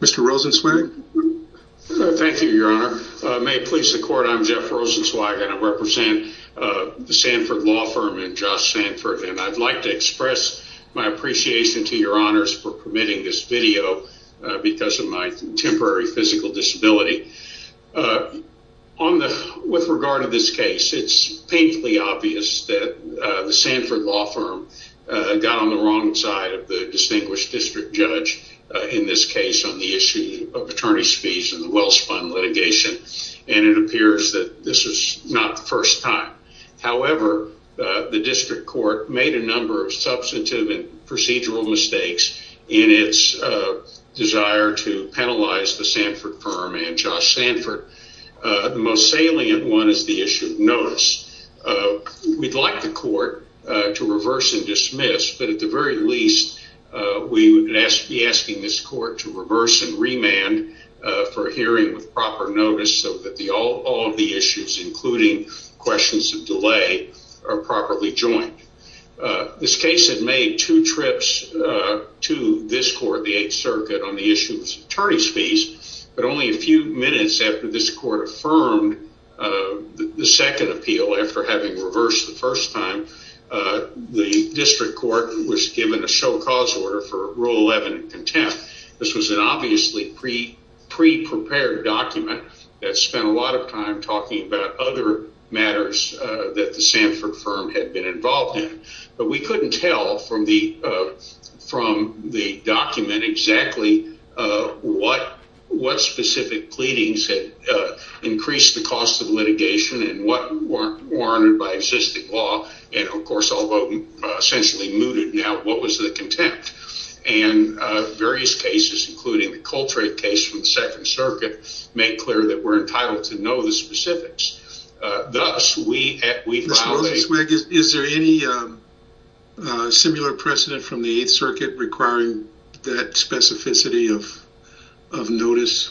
Mr. Rosenzweig. Thank you, your honor. May it please the court, I'm Jeff Rosenzweig and I represent the Sanford Law Firm and Josh Sanford and I'd like to express my appreciation to your honors for permitting this video because of my temporary physical disability. With regard to this case, it's painfully obvious that the Sanford Law Firm got on the wrong side of the distinguished district judge in this case on the issue of attorney's fees and the Wells Fund litigation and it appears that this is not the first time. However, the district court made a number of substantive and procedural mistakes in its desire to penalize the Sanford Firm and Josh Sanford. The most salient one is the issue of notice. We'd like the court to reverse and dismiss, but at the very least, we would be asking this court to reverse and remand for a hearing with proper notice so that all of the issues, including questions of delay, are properly joined. This case had made two trips to this court, the Eighth Circuit, on the issue of attorney's fees, but only a few minutes after this court affirmed the second appeal, after having reversed the first given a show cause order for Rule 11 in contempt. This was an obviously pre-prepared document that spent a lot of time talking about other matters that the Sanford Firm had been involved in, but we couldn't tell from the document exactly what specific pleadings had increased the cost of litigation and what warranted by existing law, and of course, although essentially mooted now, what was the contempt? Various cases, including the Coltrane case from the Second Circuit, made clear that we're entitled to know the specifics. Thus, we violated- Mr. Rosenzweig, is there any similar precedent from the Eighth Circuit requiring that specificity of notice?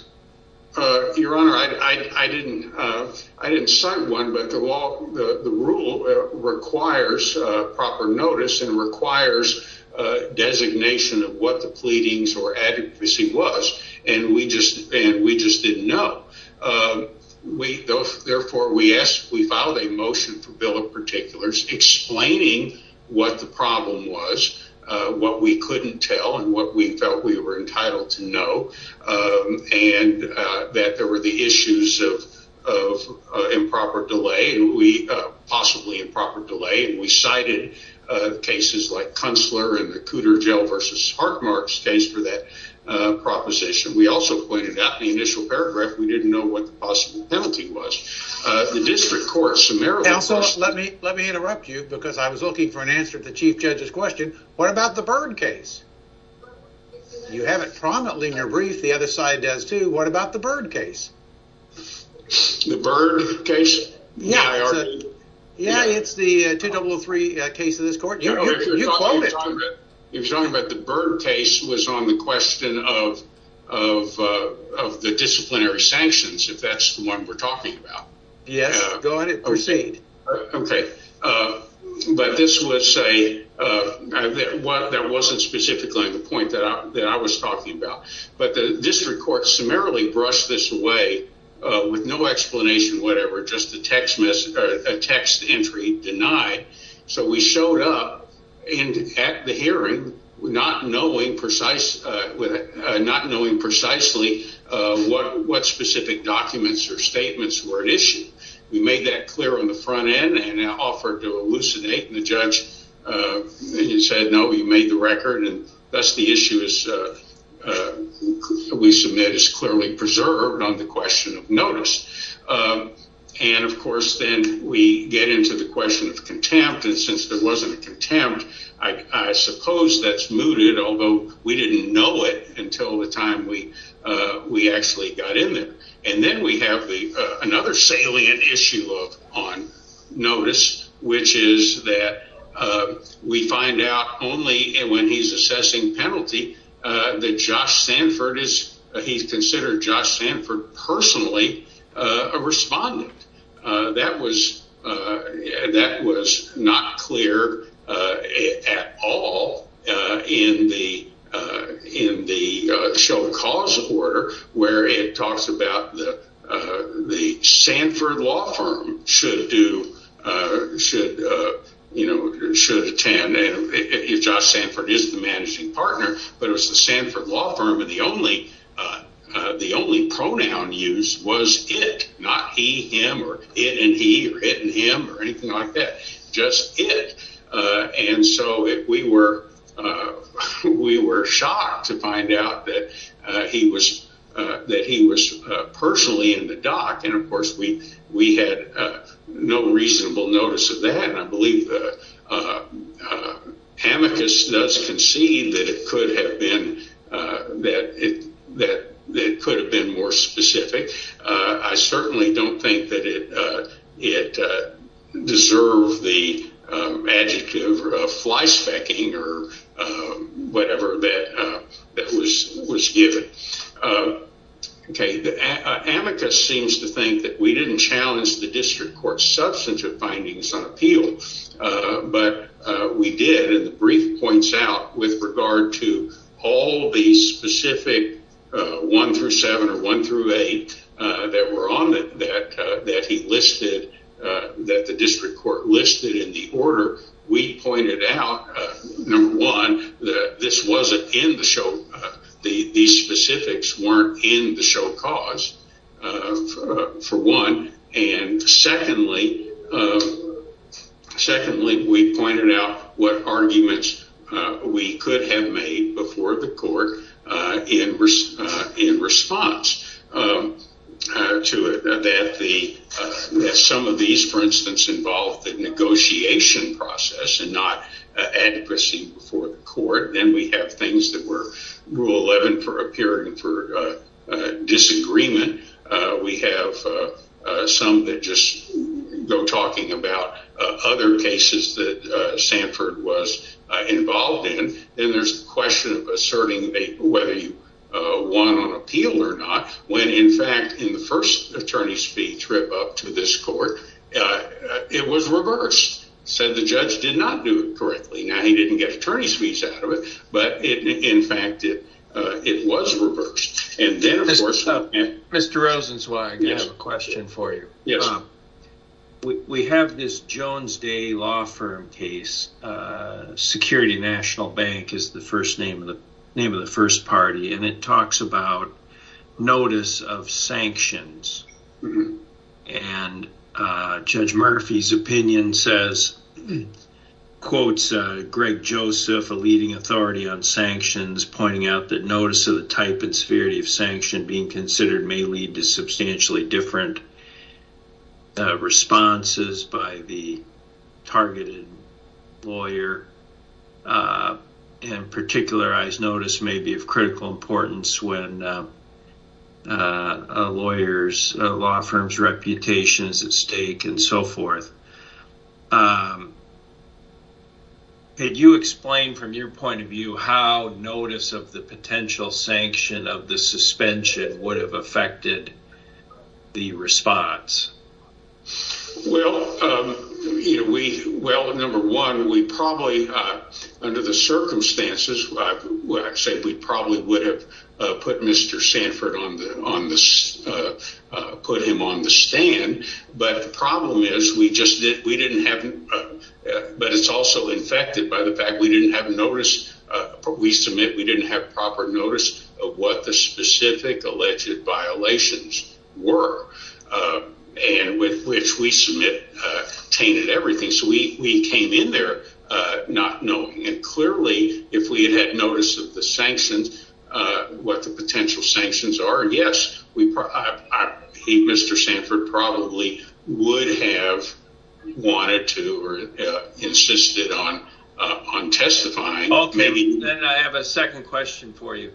Your Honor, I didn't cite one, but the rule requires proper notice and requires designation of what the pleadings or adequacy was, and we just didn't know. Therefore, we filed a motion for Bill of Particulars explaining what the problem was, what we couldn't tell, and what we felt we were entitled to know, and that there were the issues of improper delay, possibly improper delay, and we cited cases like Kunstler and the Cooter Jail v. Hartmark case for that proposition. We also pointed out in the initial paragraph we didn't know what the possible penalty was. The District Court of Samaritan- Let me interrupt you because I was looking for an answer to the Chief Judge's question. What about the Byrd case? You have it prominently in your brief. The other side does too. What about the Byrd case? The Byrd case? Yeah, it's the 2003 case of this court. You quoted- You're talking about the Byrd case was on the question of the disciplinary sanctions, if that's the one we're talking about. Yes, go ahead and proceed. Okay, but this would say that wasn't specifically the point that I was talking about, but the District Court summarily brushed this away with no explanation, whatever, just a text entry denied. We showed up at the hearing not knowing precisely what specific documents or statements were at issue. We made that clear on the front end and offered to elucidate, and the judge said, no, we made the record, and thus the issue we submit is clearly preserved on the question of notice. Of course, then we get into the question of contempt, and since there wasn't a contempt, I suppose that's mooted, although we didn't know it until the time we actually got in there. Then we have another salient issue on notice, which is that we find out only when he's assessing penalty that he's considered Josh Sanford personally a respondent. That was not clear at all in the show of cause order, where it talks about the Sanford law firm should or should attend if Josh Sanford is the managing partner, but it was the Sanford law firm, and the only pronoun used was it, not he, him, or it and he, or it and him, or anything like that, just it. We were shocked to find out that he was personally in the dock, and of course, we had no reasonable notice of that, and I believe the amicus does concede that it could have been more specific. I certainly don't think that it deserved the adjective of flyspecking or whatever that was given. The amicus seems to think that we didn't challenge the district court's substantive findings on appeal, but we did, and the brief points out with regard to all the specific one through seven or one through eight that were on it that he listed, that the district court listed in the order, we pointed out, number one, that this wasn't in the show. These specifics weren't in the show of cause for one, and secondly, we pointed out what arguments we could have made before the court in response to it, that some of these, for instance, involved the negotiation process and not advocacy before the court. Then we have things that were rule 11 for appearing for disagreement. We have some that just go talking about other cases that Sanford was involved in, and there's a question of asserting whether you won on appeal or not, when in fact, in the first attorney's fee trip up to this court, it was reversed. Said the judge did not do it correctly. Now, he didn't get attorney's fees out of it, but in fact, it was reversed, and then of course... Mr. Rosenzweig, I have a question for you. We have this Jones Day law firm case, Security National Bank is the name of the first party, and it talks about notice of sanctions, and Judge Murphy's opinion says, quotes Greg Joseph, a leading authority on sanctions, pointing out that notice of the responses by the targeted lawyer, and particularized notice may be of critical importance when a lawyer's, a law firm's reputation is at stake and so forth. Could you explain from your point of view how notice of the potential sanction of the suspension would have affected the response? Well, number one, we probably, under the circumstances, we probably would have put Mr. Sanford on the, put him on the stand, but the problem is we just didn't, we didn't have, but it's also infected by the fact we didn't have notice, we submit we didn't have proper notice of what the specific alleged violations were, and with which we submit tainted everything, so we came in there not knowing, and clearly, if we had had notice of the sanctions, what the potential sanctions are, yes, we probably, Mr. Sanford probably would have wanted to or insisted on testifying. Okay, then I have a second question for you.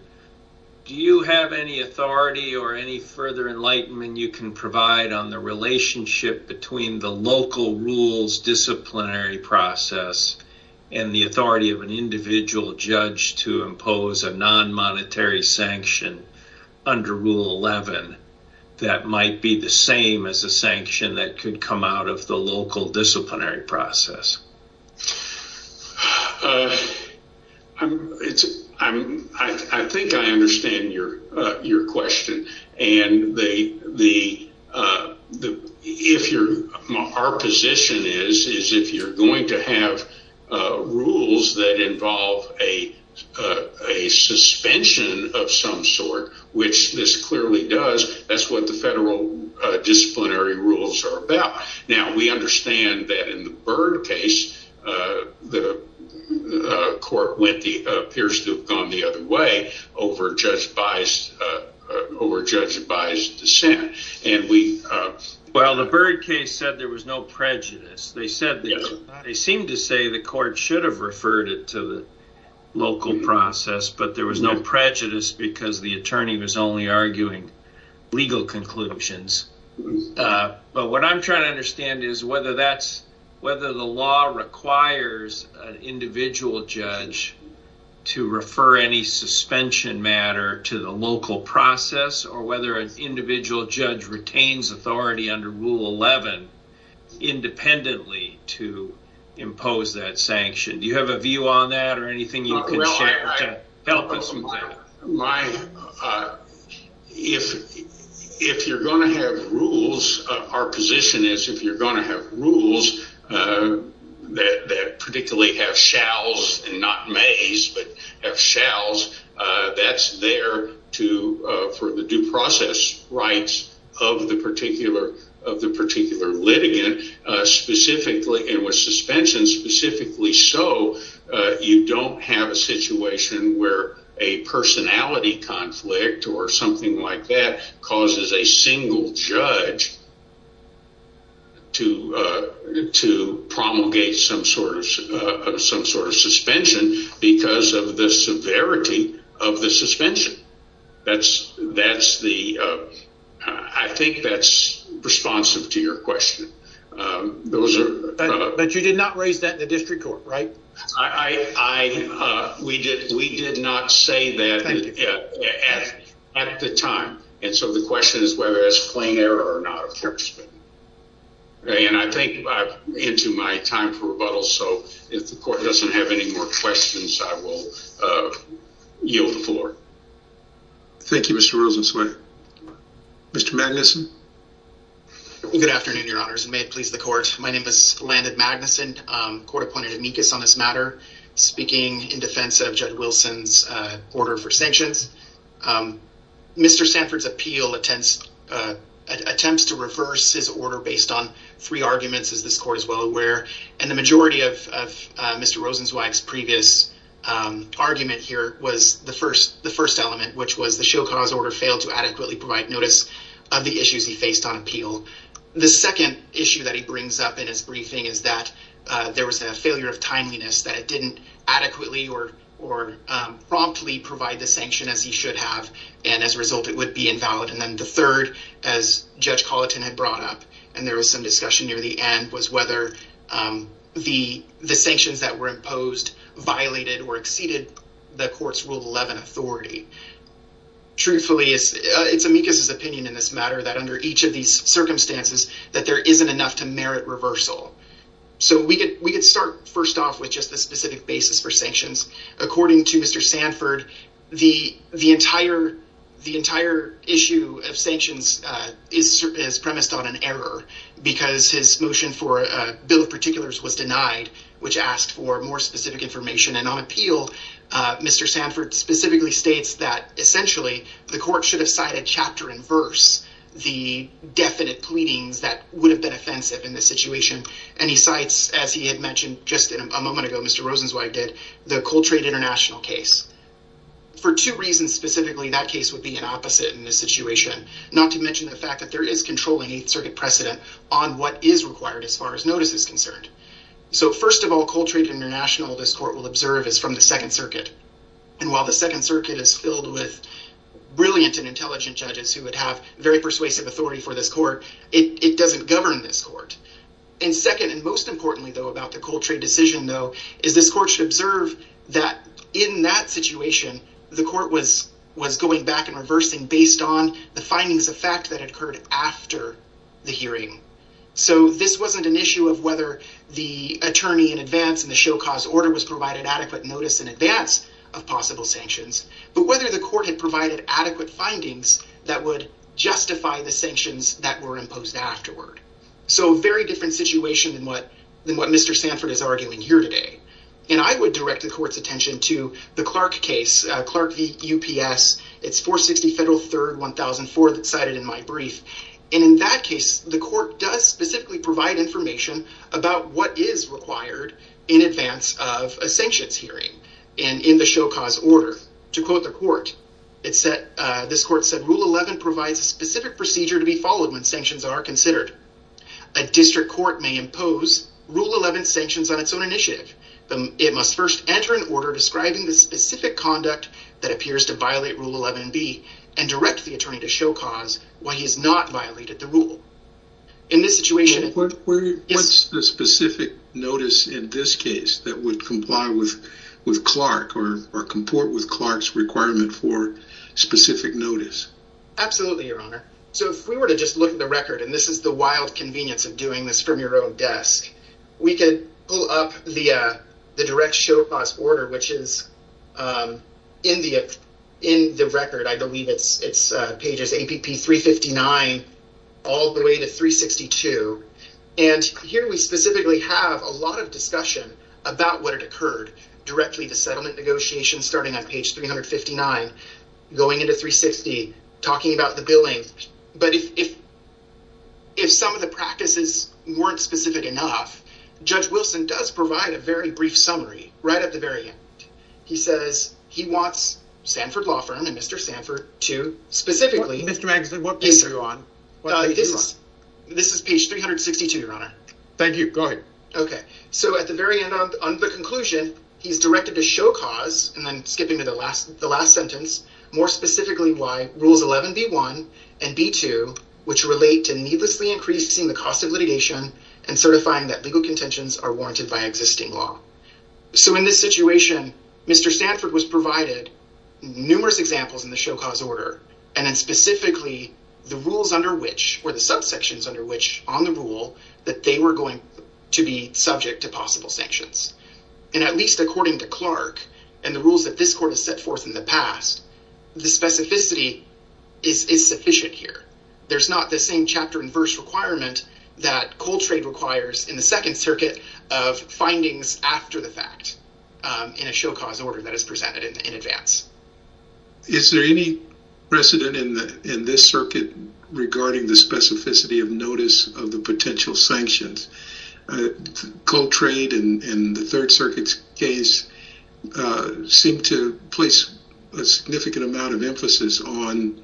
Do you have any authority or any further enlightenment you can provide on the relationship between the local rules disciplinary process and the authority of an individual judge to impose a non-monetary sanction under Rule 11 that might be the same as a sanction that could come out of the local disciplinary process? I'm, it's, I'm, I, I think I understand your, your question, and the, the, the, if you're, our position is, is if you're going to have rules that involve a, a suspension of some sort, which this clearly does, that's what the federal disciplinary rules are about. Now, we understand that in the Byrd case, the court went the, appears to have gone the other way over Judge By's, over Judge By's dissent, and we, well, the Byrd case said there was no prejudice. They said, they seemed to say the court should have referred it to the local process, but there was no prejudice because the attorney was only arguing legal conclusions. But what I'm trying to understand is whether that's, whether the law requires an individual judge to refer any suspension matter to the local process or whether an individual judge retains authority under Rule 11 independently to impose that If you're going to have rules, our position is, if you're going to have rules that, that particularly have shalls and not mays, but have shalls, that's there to, for the due process rights of the particular, of the particular litigant, specifically, and with suspension specifically so, you don't have a situation where a personality conflict or something like that causes a single judge to, to promulgate some sort of, some sort of suspension because of the severity of the suspension. That's, that's the, I think that's responsive to your question. Those are, but you did not raise that in the district court, right? I, I, we did, we did not say that at the time. And so the question is whether it's plain error or not. And I think I'm into my time for rebuttal. So if the court doesn't have any more questions, I will yield the floor. Thank you, Mr. Rosenzweig. Mr. Magnuson. Good afternoon, your honors, and may it please the court. My name is Landon Magnuson, court appointed amicus on this matter, speaking in defense of Judd Wilson's order for sanctions. Mr. Sanford's appeal attempts, attempts to reverse his order based on three arguments, as this court is well aware, and the majority of, of Mr. Rosenzweig's previous argument here was the first, the first element, which was the show cause order failed to adequately provide notice of the issues he faced on appeal. The second issue that he brings up in his briefing is that there was a failure of timeliness that it didn't adequately or, or promptly provide the sanction as he should have. And as a result, it would be invalid. And then the third, as Judge Colleton had brought up, and there was some discussion near the end was whether the, the sanctions that were imposed violated or exceeded the court's rule 11 authority. Truthfully, it's, it's amicus' opinion in this matter that under each of these circumstances, that there isn't enough to merit reversal. So we could, we could start first off with just the specific basis for sanctions. According to Mr. Sanford, the, the entire, the entire issue of sanctions is, is premised on an error because his motion for a bill of particulars was denied, which asked for more specific information. And on appeal, Mr. Sanford specifically states that essentially the court should have cited chapter and verse the definite pleadings that would have been offensive in this situation. And he cites, as he had mentioned just a moment ago, Mr. Rosenzweig did the Coltrane International case for two reasons. Specifically, that case would be an opposite in this situation, not to mention the fact that there is controlling eighth circuit precedent on what is required as far as notice is concerned. So first of all Coltrane International, this court will observe is from the second circuit. And while the second circuit is filled with brilliant and intelligent judges who would have very persuasive authority for this court, it doesn't govern this court. And second, and most importantly though, about the Coltrane decision though, is this court should observe that in that situation, the court was, was going back and reversing based on the findings of fact that had occurred after the hearing. So this wasn't an issue of whether the attorney in advance and the show cause order was provided adequate notice in advance of possible sanctions, but whether the court had provided adequate findings that would justify the sanctions that were imposed afterward. So very different situation than what, than what Mr. Sanford is arguing here today. And I would direct the court's attention to the Clark case, Clark v. UPS. It's 460 Federal 3rd, 1004 that cited in my brief. And in that case, the court does specifically provide information about what is required in advance of a sanctions hearing and in the show cause order to quote the court. It said, this court said rule 11 provides a specific procedure to be followed when sanctions are considered. A district court may impose rule 11 sanctions on its own initiative. It must first enter an order describing the specific conduct that appears to violate rule 11B and direct the court to not violate the rule in this situation. What's the specific notice in this case that would comply with, with Clark or, or comport with Clark's requirement for specific notice? Absolutely, your honor. So if we were to just look at the record, and this is the wild convenience of doing this from your own desk, we can pull up the, uh, the direct show cause order, which is, um, in the, in the record, I believe it's, it's, uh, pages APP 359, all the way to 362. And here we specifically have a lot of discussion about what had occurred directly to settlement negotiations, starting on page 359, going into 360, talking about the billing. But if, if, if some of the practices weren't specific enough, Judge Wilson does provide a very brief summary right at the very end. He says he wants Sanford Law Firm and Mr. Sanford to specifically... Mr. Magsden, what page are you on? This is page 362, your honor. Thank you. Go ahead. Okay. So at the very end of, on the conclusion, he's directed to show cause, and then skipping to the last, the last sentence, more specifically why rules 11B1 and B2, which relate to needlessly increasing the cost of litigation and certifying that legal contentions are warranted by existing law. So in this situation, Mr. Sanford was provided numerous examples in the show cause order. And then specifically the rules under which, or the subsections under which on the rule that they were going to be subject to possible sanctions. And at least according to Clark and the rules that this court has set forth in the past, the specificity is sufficient here. There's not the chapter and verse requirement that Coltrade requires in the second circuit of findings after the fact in a show cause order that is presented in advance. Is there any precedent in the, in this circuit regarding the specificity of notice of the potential sanctions? Coltrade and the third circuit's case seem to place a significant amount of emphasis on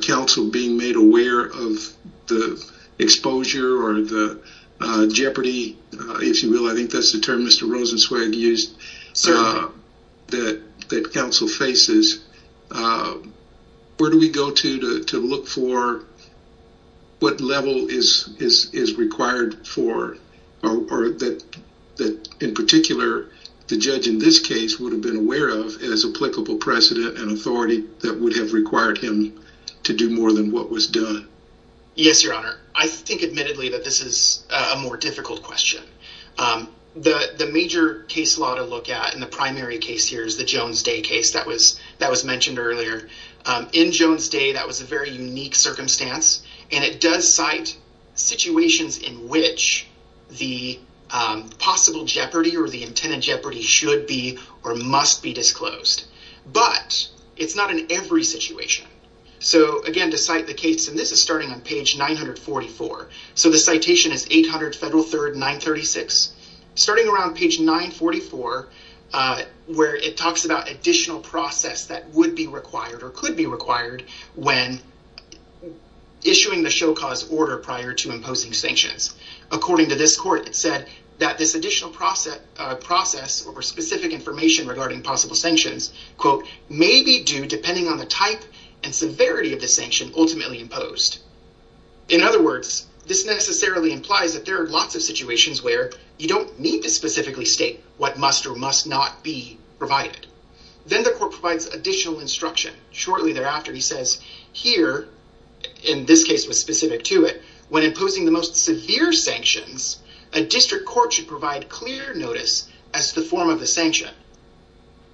counsel being made aware of the exposure or the jeopardy, if you will, I think that's the term Mr. Rosenzweig used, that counsel faces. Where do we go to look for what level is required for, or that in particular, the judge in this case would have been aware of as applicable precedent and authority that would have required him to do more than what was done? Yes, your honor. I think admittedly that this is a more difficult question. The major case law to look at in the primary case here is the Jones Day case that was mentioned earlier. In Jones Day, that was a very unique circumstance and it does cite situations in which the possible jeopardy or the intended jeopardy should be or must be disclosed, but it's not in every situation. So again, to cite the case, and this is starting on page 944. So the citation is 800 Federal 3rd, 936. Starting around page 944, where it talks about additional process that would be required or could be required when issuing the show cause order prior to imposing sanctions. According to this court, it said that this additional process or specific information regarding possible sanctions, quote, may be due depending on the type and severity of the sanction ultimately imposed. In other words, this necessarily implies that there are lots of situations where you don't need to specifically state what must or must not be provided. Then the court provides additional instruction. Shortly thereafter, he says here, in this case was specific to it, imposing the most severe sanctions, a district court should provide clear notice as the form of the sanction.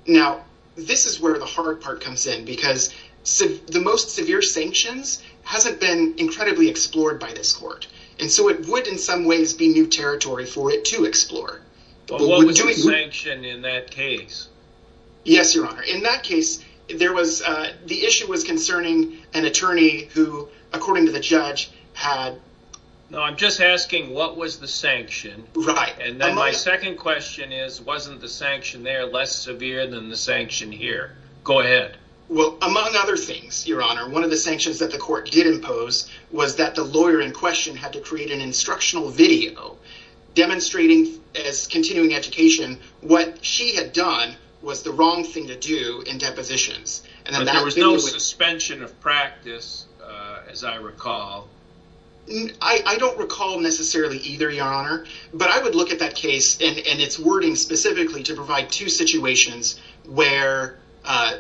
Now, this is where the hard part comes in, because the most severe sanctions hasn't been incredibly explored by this court, and so it would in some ways be new territory for it to explore. But what was the sanction in that case? Yes, your honor. In that case, there was, the issue was concerning an attorney who, according to the judge, had... No, I'm just asking what was the sanction? Right. And then my second question is, wasn't the sanction there less severe than the sanction here? Go ahead. Well, among other things, your honor, one of the sanctions that the court did impose was that the lawyer in question had to create an instructional video demonstrating as continuing education what she had done was the wrong thing to do in depositions. There was no suspension of practice, as I recall. I don't recall necessarily either, your honor, but I would look at that case and its wording specifically to provide two situations where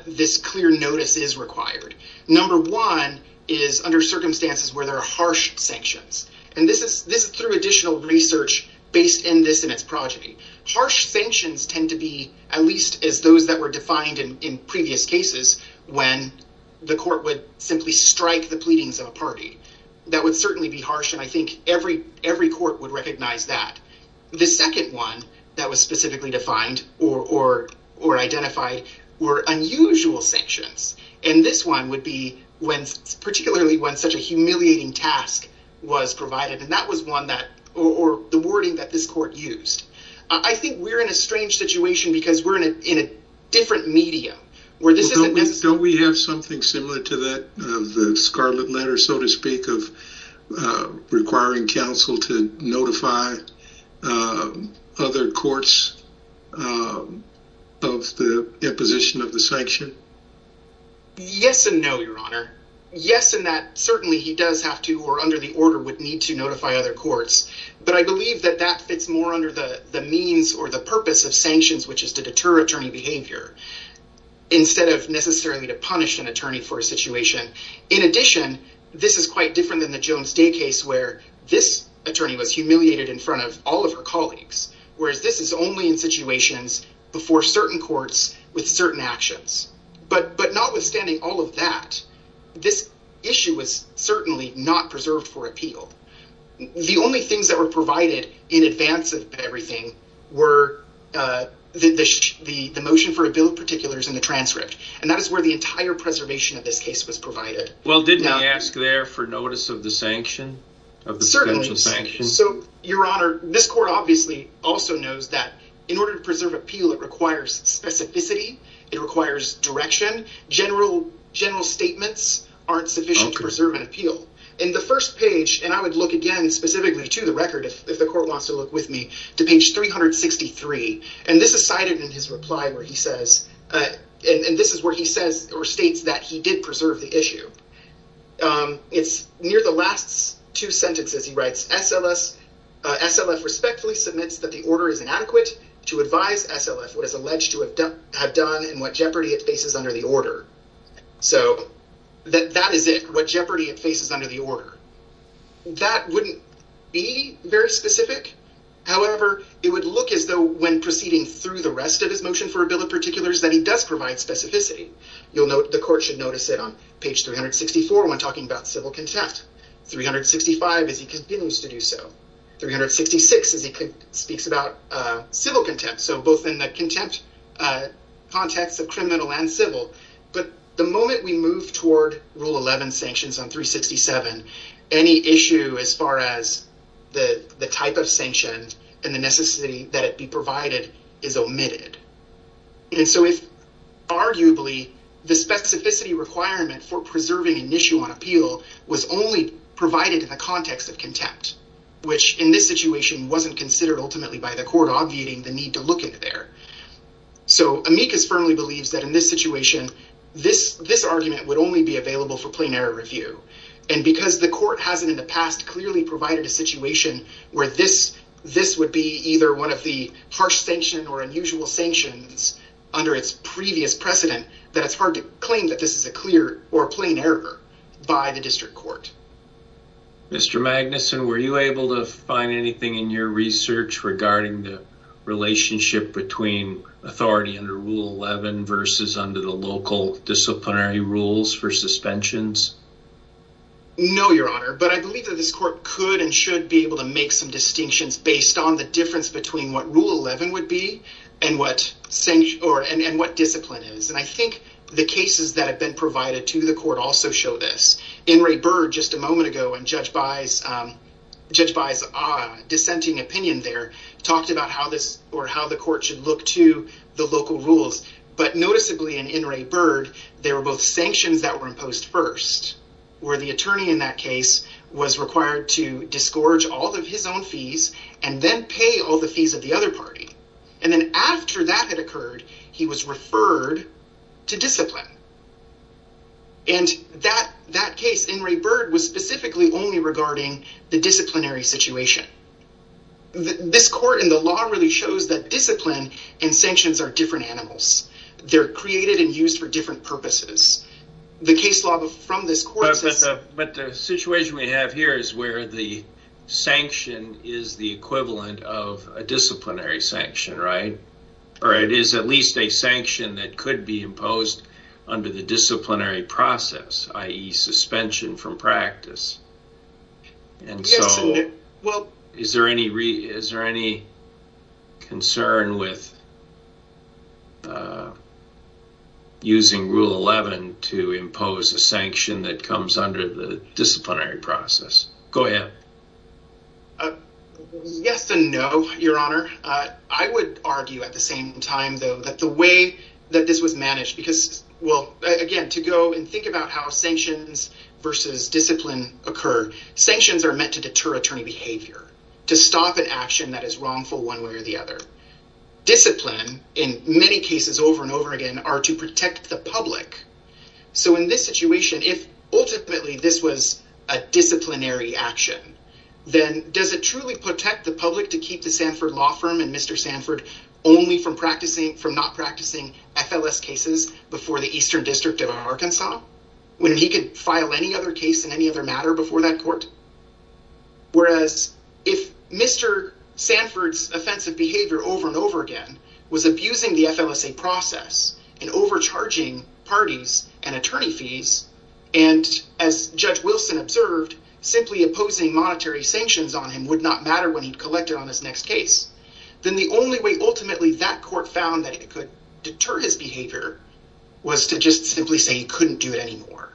this clear notice is required. Number one is under circumstances where there are harsh sanctions, and this is through additional research based in this and its progeny. Harsh sanctions tend to be at least as those that were defined in previous cases when the court would simply strike the pleadings of a party. That would certainly be harsh, and I think every court would recognize that. The second one that was specifically defined or identified were unusual sanctions, and this one would be particularly when such a humiliating task was provided, or the wording that this court used. I think we're in a strange situation because we're in a different medium. Don't we have something similar to that, the scarlet letter, so to speak, of requiring counsel to notify other courts of the imposition of the sanction? Yes and no, your honor. Yes, and that certainly he does have to or under the order would need to other courts, but I believe that that fits more under the means or the purpose of sanctions, which is to deter attorney behavior instead of necessarily to punish an attorney for a situation. In addition, this is quite different than the Jones Day case where this attorney was humiliated in front of all of her colleagues, whereas this is only in situations before certain courts with certain actions. But notwithstanding all of that, this issue was not preserved for appeal. The only things that were provided in advance of everything were the motion for a bill of particulars and the transcript, and that is where the entire preservation of this case was provided. Well, didn't he ask there for notice of the sanction? So your honor, this court obviously also knows that in order to preserve appeal, it requires specificity. It requires direction. General statements aren't sufficient to preserve appeal. In the first page, and I would look again specifically to the record if the court wants to look with me to page 363, and this is cited in his reply where he says, and this is where he says or states that he did preserve the issue. It's near the last two sentences he writes, SLF respectfully submits that the order is inadequate to advise SLF what is alleged to have done and what jeopardy it faces under the order. That wouldn't be very specific. However, it would look as though when proceeding through the rest of his motion for a bill of particulars that he does provide specificity. You'll note the court should notice it on page 364 when talking about civil contempt. 365 as he continues to do so. 366 as he speaks about civil contempt. So both in the contempt context of criminal and civil, but the moment we move toward rule 11 sanctions on 367, any issue as far as the type of sanctions and the necessity that it be provided is omitted. And so if arguably the specificity requirement for preserving an issue on appeal was only provided in the context of contempt, which in this situation wasn't considered ultimately by the district court to have been there. So amicus firmly believes that in this situation, this argument would only be available for plain error review. And because the court hasn't in the past clearly provided a situation where this would be either one of the harsh sanction or unusual sanctions under its previous precedent, that it's hard to claim that this is a clear or plain error by the district court. Mr. Magnuson, were you authority under rule 11 versus under the local disciplinary rules for suspensions? No, your honor, but I believe that this court could and should be able to make some distinctions based on the difference between what rule 11 would be and what sanction or and what discipline is. And I think the cases that have been provided to the court also show this. In Ray Bird just a moment ago and Judge By's dissenting opinion there talked about how this or how the court should look to the local rules. But noticeably in Ray Bird, there were both sanctions that were imposed first, where the attorney in that case was required to disgorge all of his own fees and then pay all the fees of the other party. And then after that had occurred, he was referred to discipline. And that that case in Ray Bird was specifically only regarding the disciplinary situation. This court in the law really shows that discipline and sanctions are different animals. They're created and used for different purposes. The case law from this court. But the situation we have here is where the sanction is the equivalent of a disciplinary sanction, right? Or it is at least a under the disciplinary process, i.e. suspension from practice. And so, well, is there any is there any concern with using rule 11 to impose a sanction that comes under the disciplinary process? Go ahead. Yes and no, Your Honor. I would argue at the same time, though, that the way that this was managed because, well, again, to go and think about how sanctions versus discipline occur, sanctions are meant to deter attorney behavior, to stop an action that is wrongful one way or the other. Discipline, in many cases over and over again, are to protect the public. So in this situation, if ultimately this was a disciplinary action, then does it truly protect the public to not practicing FLS cases before the Eastern District of Arkansas when he could file any other case in any other matter before that court? Whereas if Mr. Sanford's offensive behavior over and over again was abusing the FLSA process and overcharging parties and attorney fees, and as Judge Wilson observed, simply opposing monetary sanctions on him would not matter when collected on this next case, then the only way ultimately that court found that it could deter his behavior was to just simply say he couldn't do it anymore.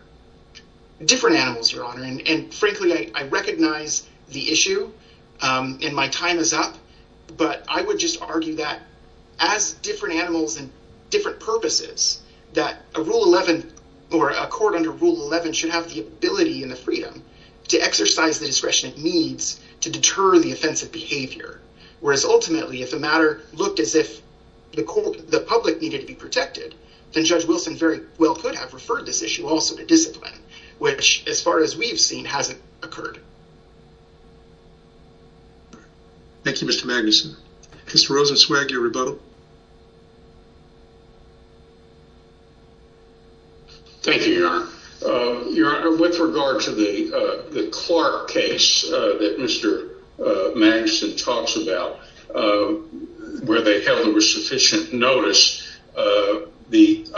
Different animals, Your Honor, and frankly, I recognize the issue and my time is up, but I would just argue that as different animals and different purposes, that a rule 11 or a court under rule 11 should have the ability and the freedom to exercise the discretion it needs to deter the offensive behavior. Whereas ultimately, if the matter looked as if the court, the public needed to be protected, then Judge Wilson very well could have referred this issue also to discipline, which as far as we've seen, hasn't occurred. Thank you, Mr. Magnuson. Mr. Rosenzweig, your rebuttal. Thank you, Your Honor. Your Honor, with regard to the Clark case that Mr. Magnuson talks about, where they held there was sufficient notice, the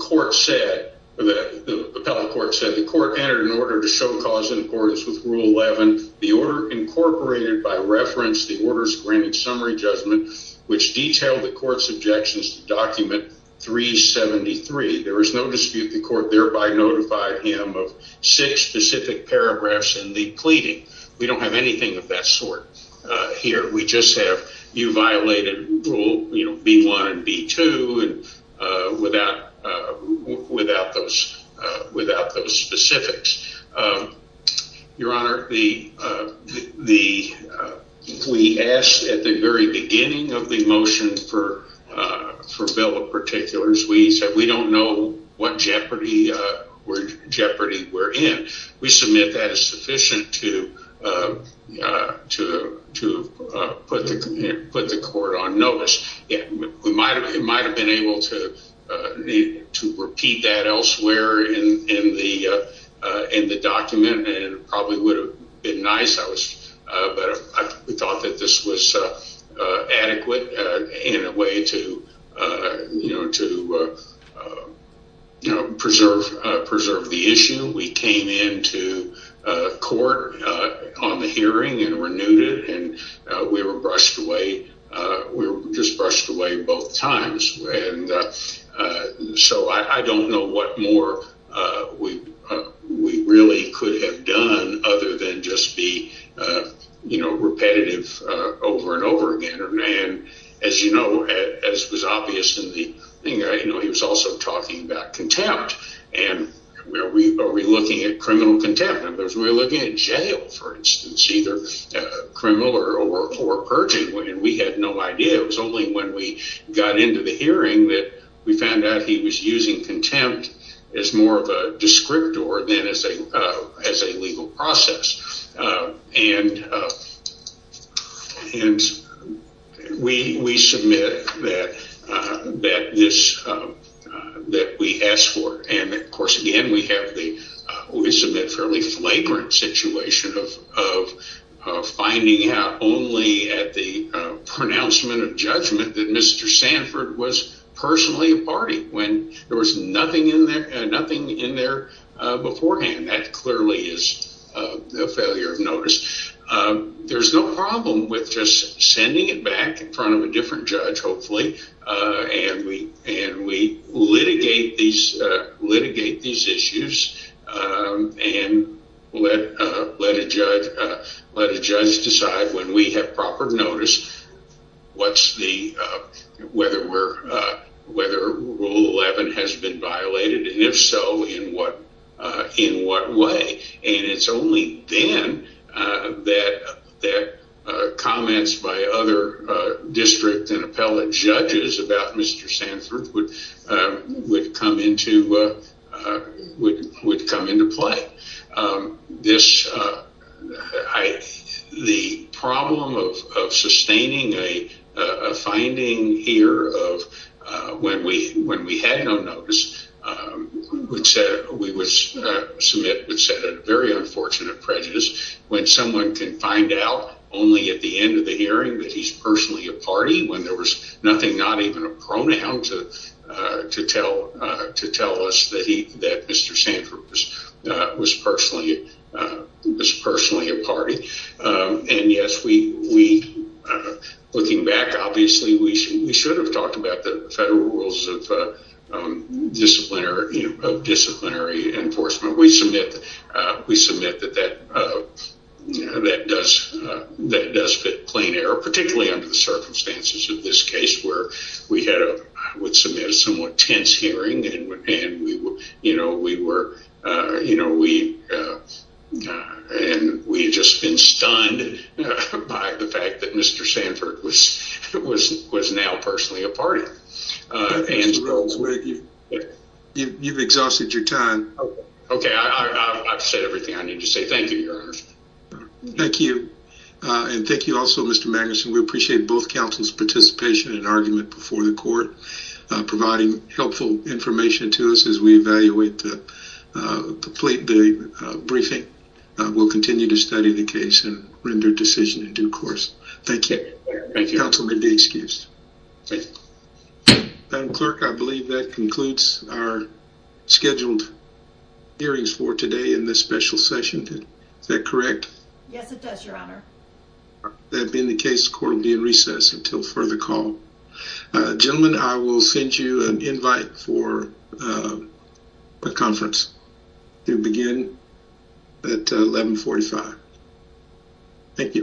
court said, the appellate court said, the court entered an order to show cause in accordance with rule 11. The order incorporated by reference, the orders granted summary judgment, which detailed the court's objections to document 373. There was no dispute. The court thereby notified him of six specific paragraphs in the pleading. We don't have anything of that sort here. We just have you violated rule B1 and B2 without those specifics. Your Honor, we asked at the very beginning of the motion for bill of particulars, we said we don't know what jeopardy we're in. We submit that as sufficient to put the court on notice. We might have been able to repeat that elsewhere in the document. It probably would have been nice, but we thought that this was adequate in a way to preserve the issue. We came into court on the hearing and renewed it. We were brushed away both times. I don't know what more we really could have done other than just be repetitive over and over again. As you know, as was obvious, he was also talking about contempt. Are we looking at criminal contempt? We were looking at jail, for instance, either criminal or purging. We had no idea. It was only when we got into the hearing that we found out he was using contempt as more of a we submit that we asked for. Of course, again, we submit a fairly flagrant situation of finding out only at the pronouncement of judgment that Mr. Sanford was personally a party when there was nothing in there beforehand. That clearly is a failure of notice. There's no problem with just sending it back in front of a different judge, hopefully, and we litigate these issues and let a judge decide when we have proper notice what's the, whether Rule 11 has been violated, and if so, in what way. It's only then that comments by other district and appellate judges about Mr. Sanford would come into play. This, the problem of sustaining a finding here of when we had no notice, we would submit a very unfortunate prejudice when someone can find out only at the end of the hearing that he's personally a party when there was nothing, not even a pronoun to tell us that Mr. Sanford was personally a party. Yes, looking back, obviously, we should have talked about the federal rules of disciplinary enforcement. We submit that that does fit plain error, particularly under the circumstances of this case where we had, I would submit, a somewhat tense hearing and we just been stunned by the fact that Mr. Sanford was now personally a party. You've exhausted your time. Okay, I've said everything I need to say. Thank you, Your Honor. Thank you, and thank you also, Mr. Magnuson. We appreciate both counsel's participation and information to us as we evaluate the briefing. We'll continue to study the case and render decision in due course. Thank you. Thank you. Counsel may be excused. Madam Clerk, I believe that concludes our scheduled hearings for today in this special session. Is that correct? Yes, it does, Your Honor. That being the case, the court will be in recess until further call. Gentlemen, I will send you an invite for a conference to begin at 1145. Thank you.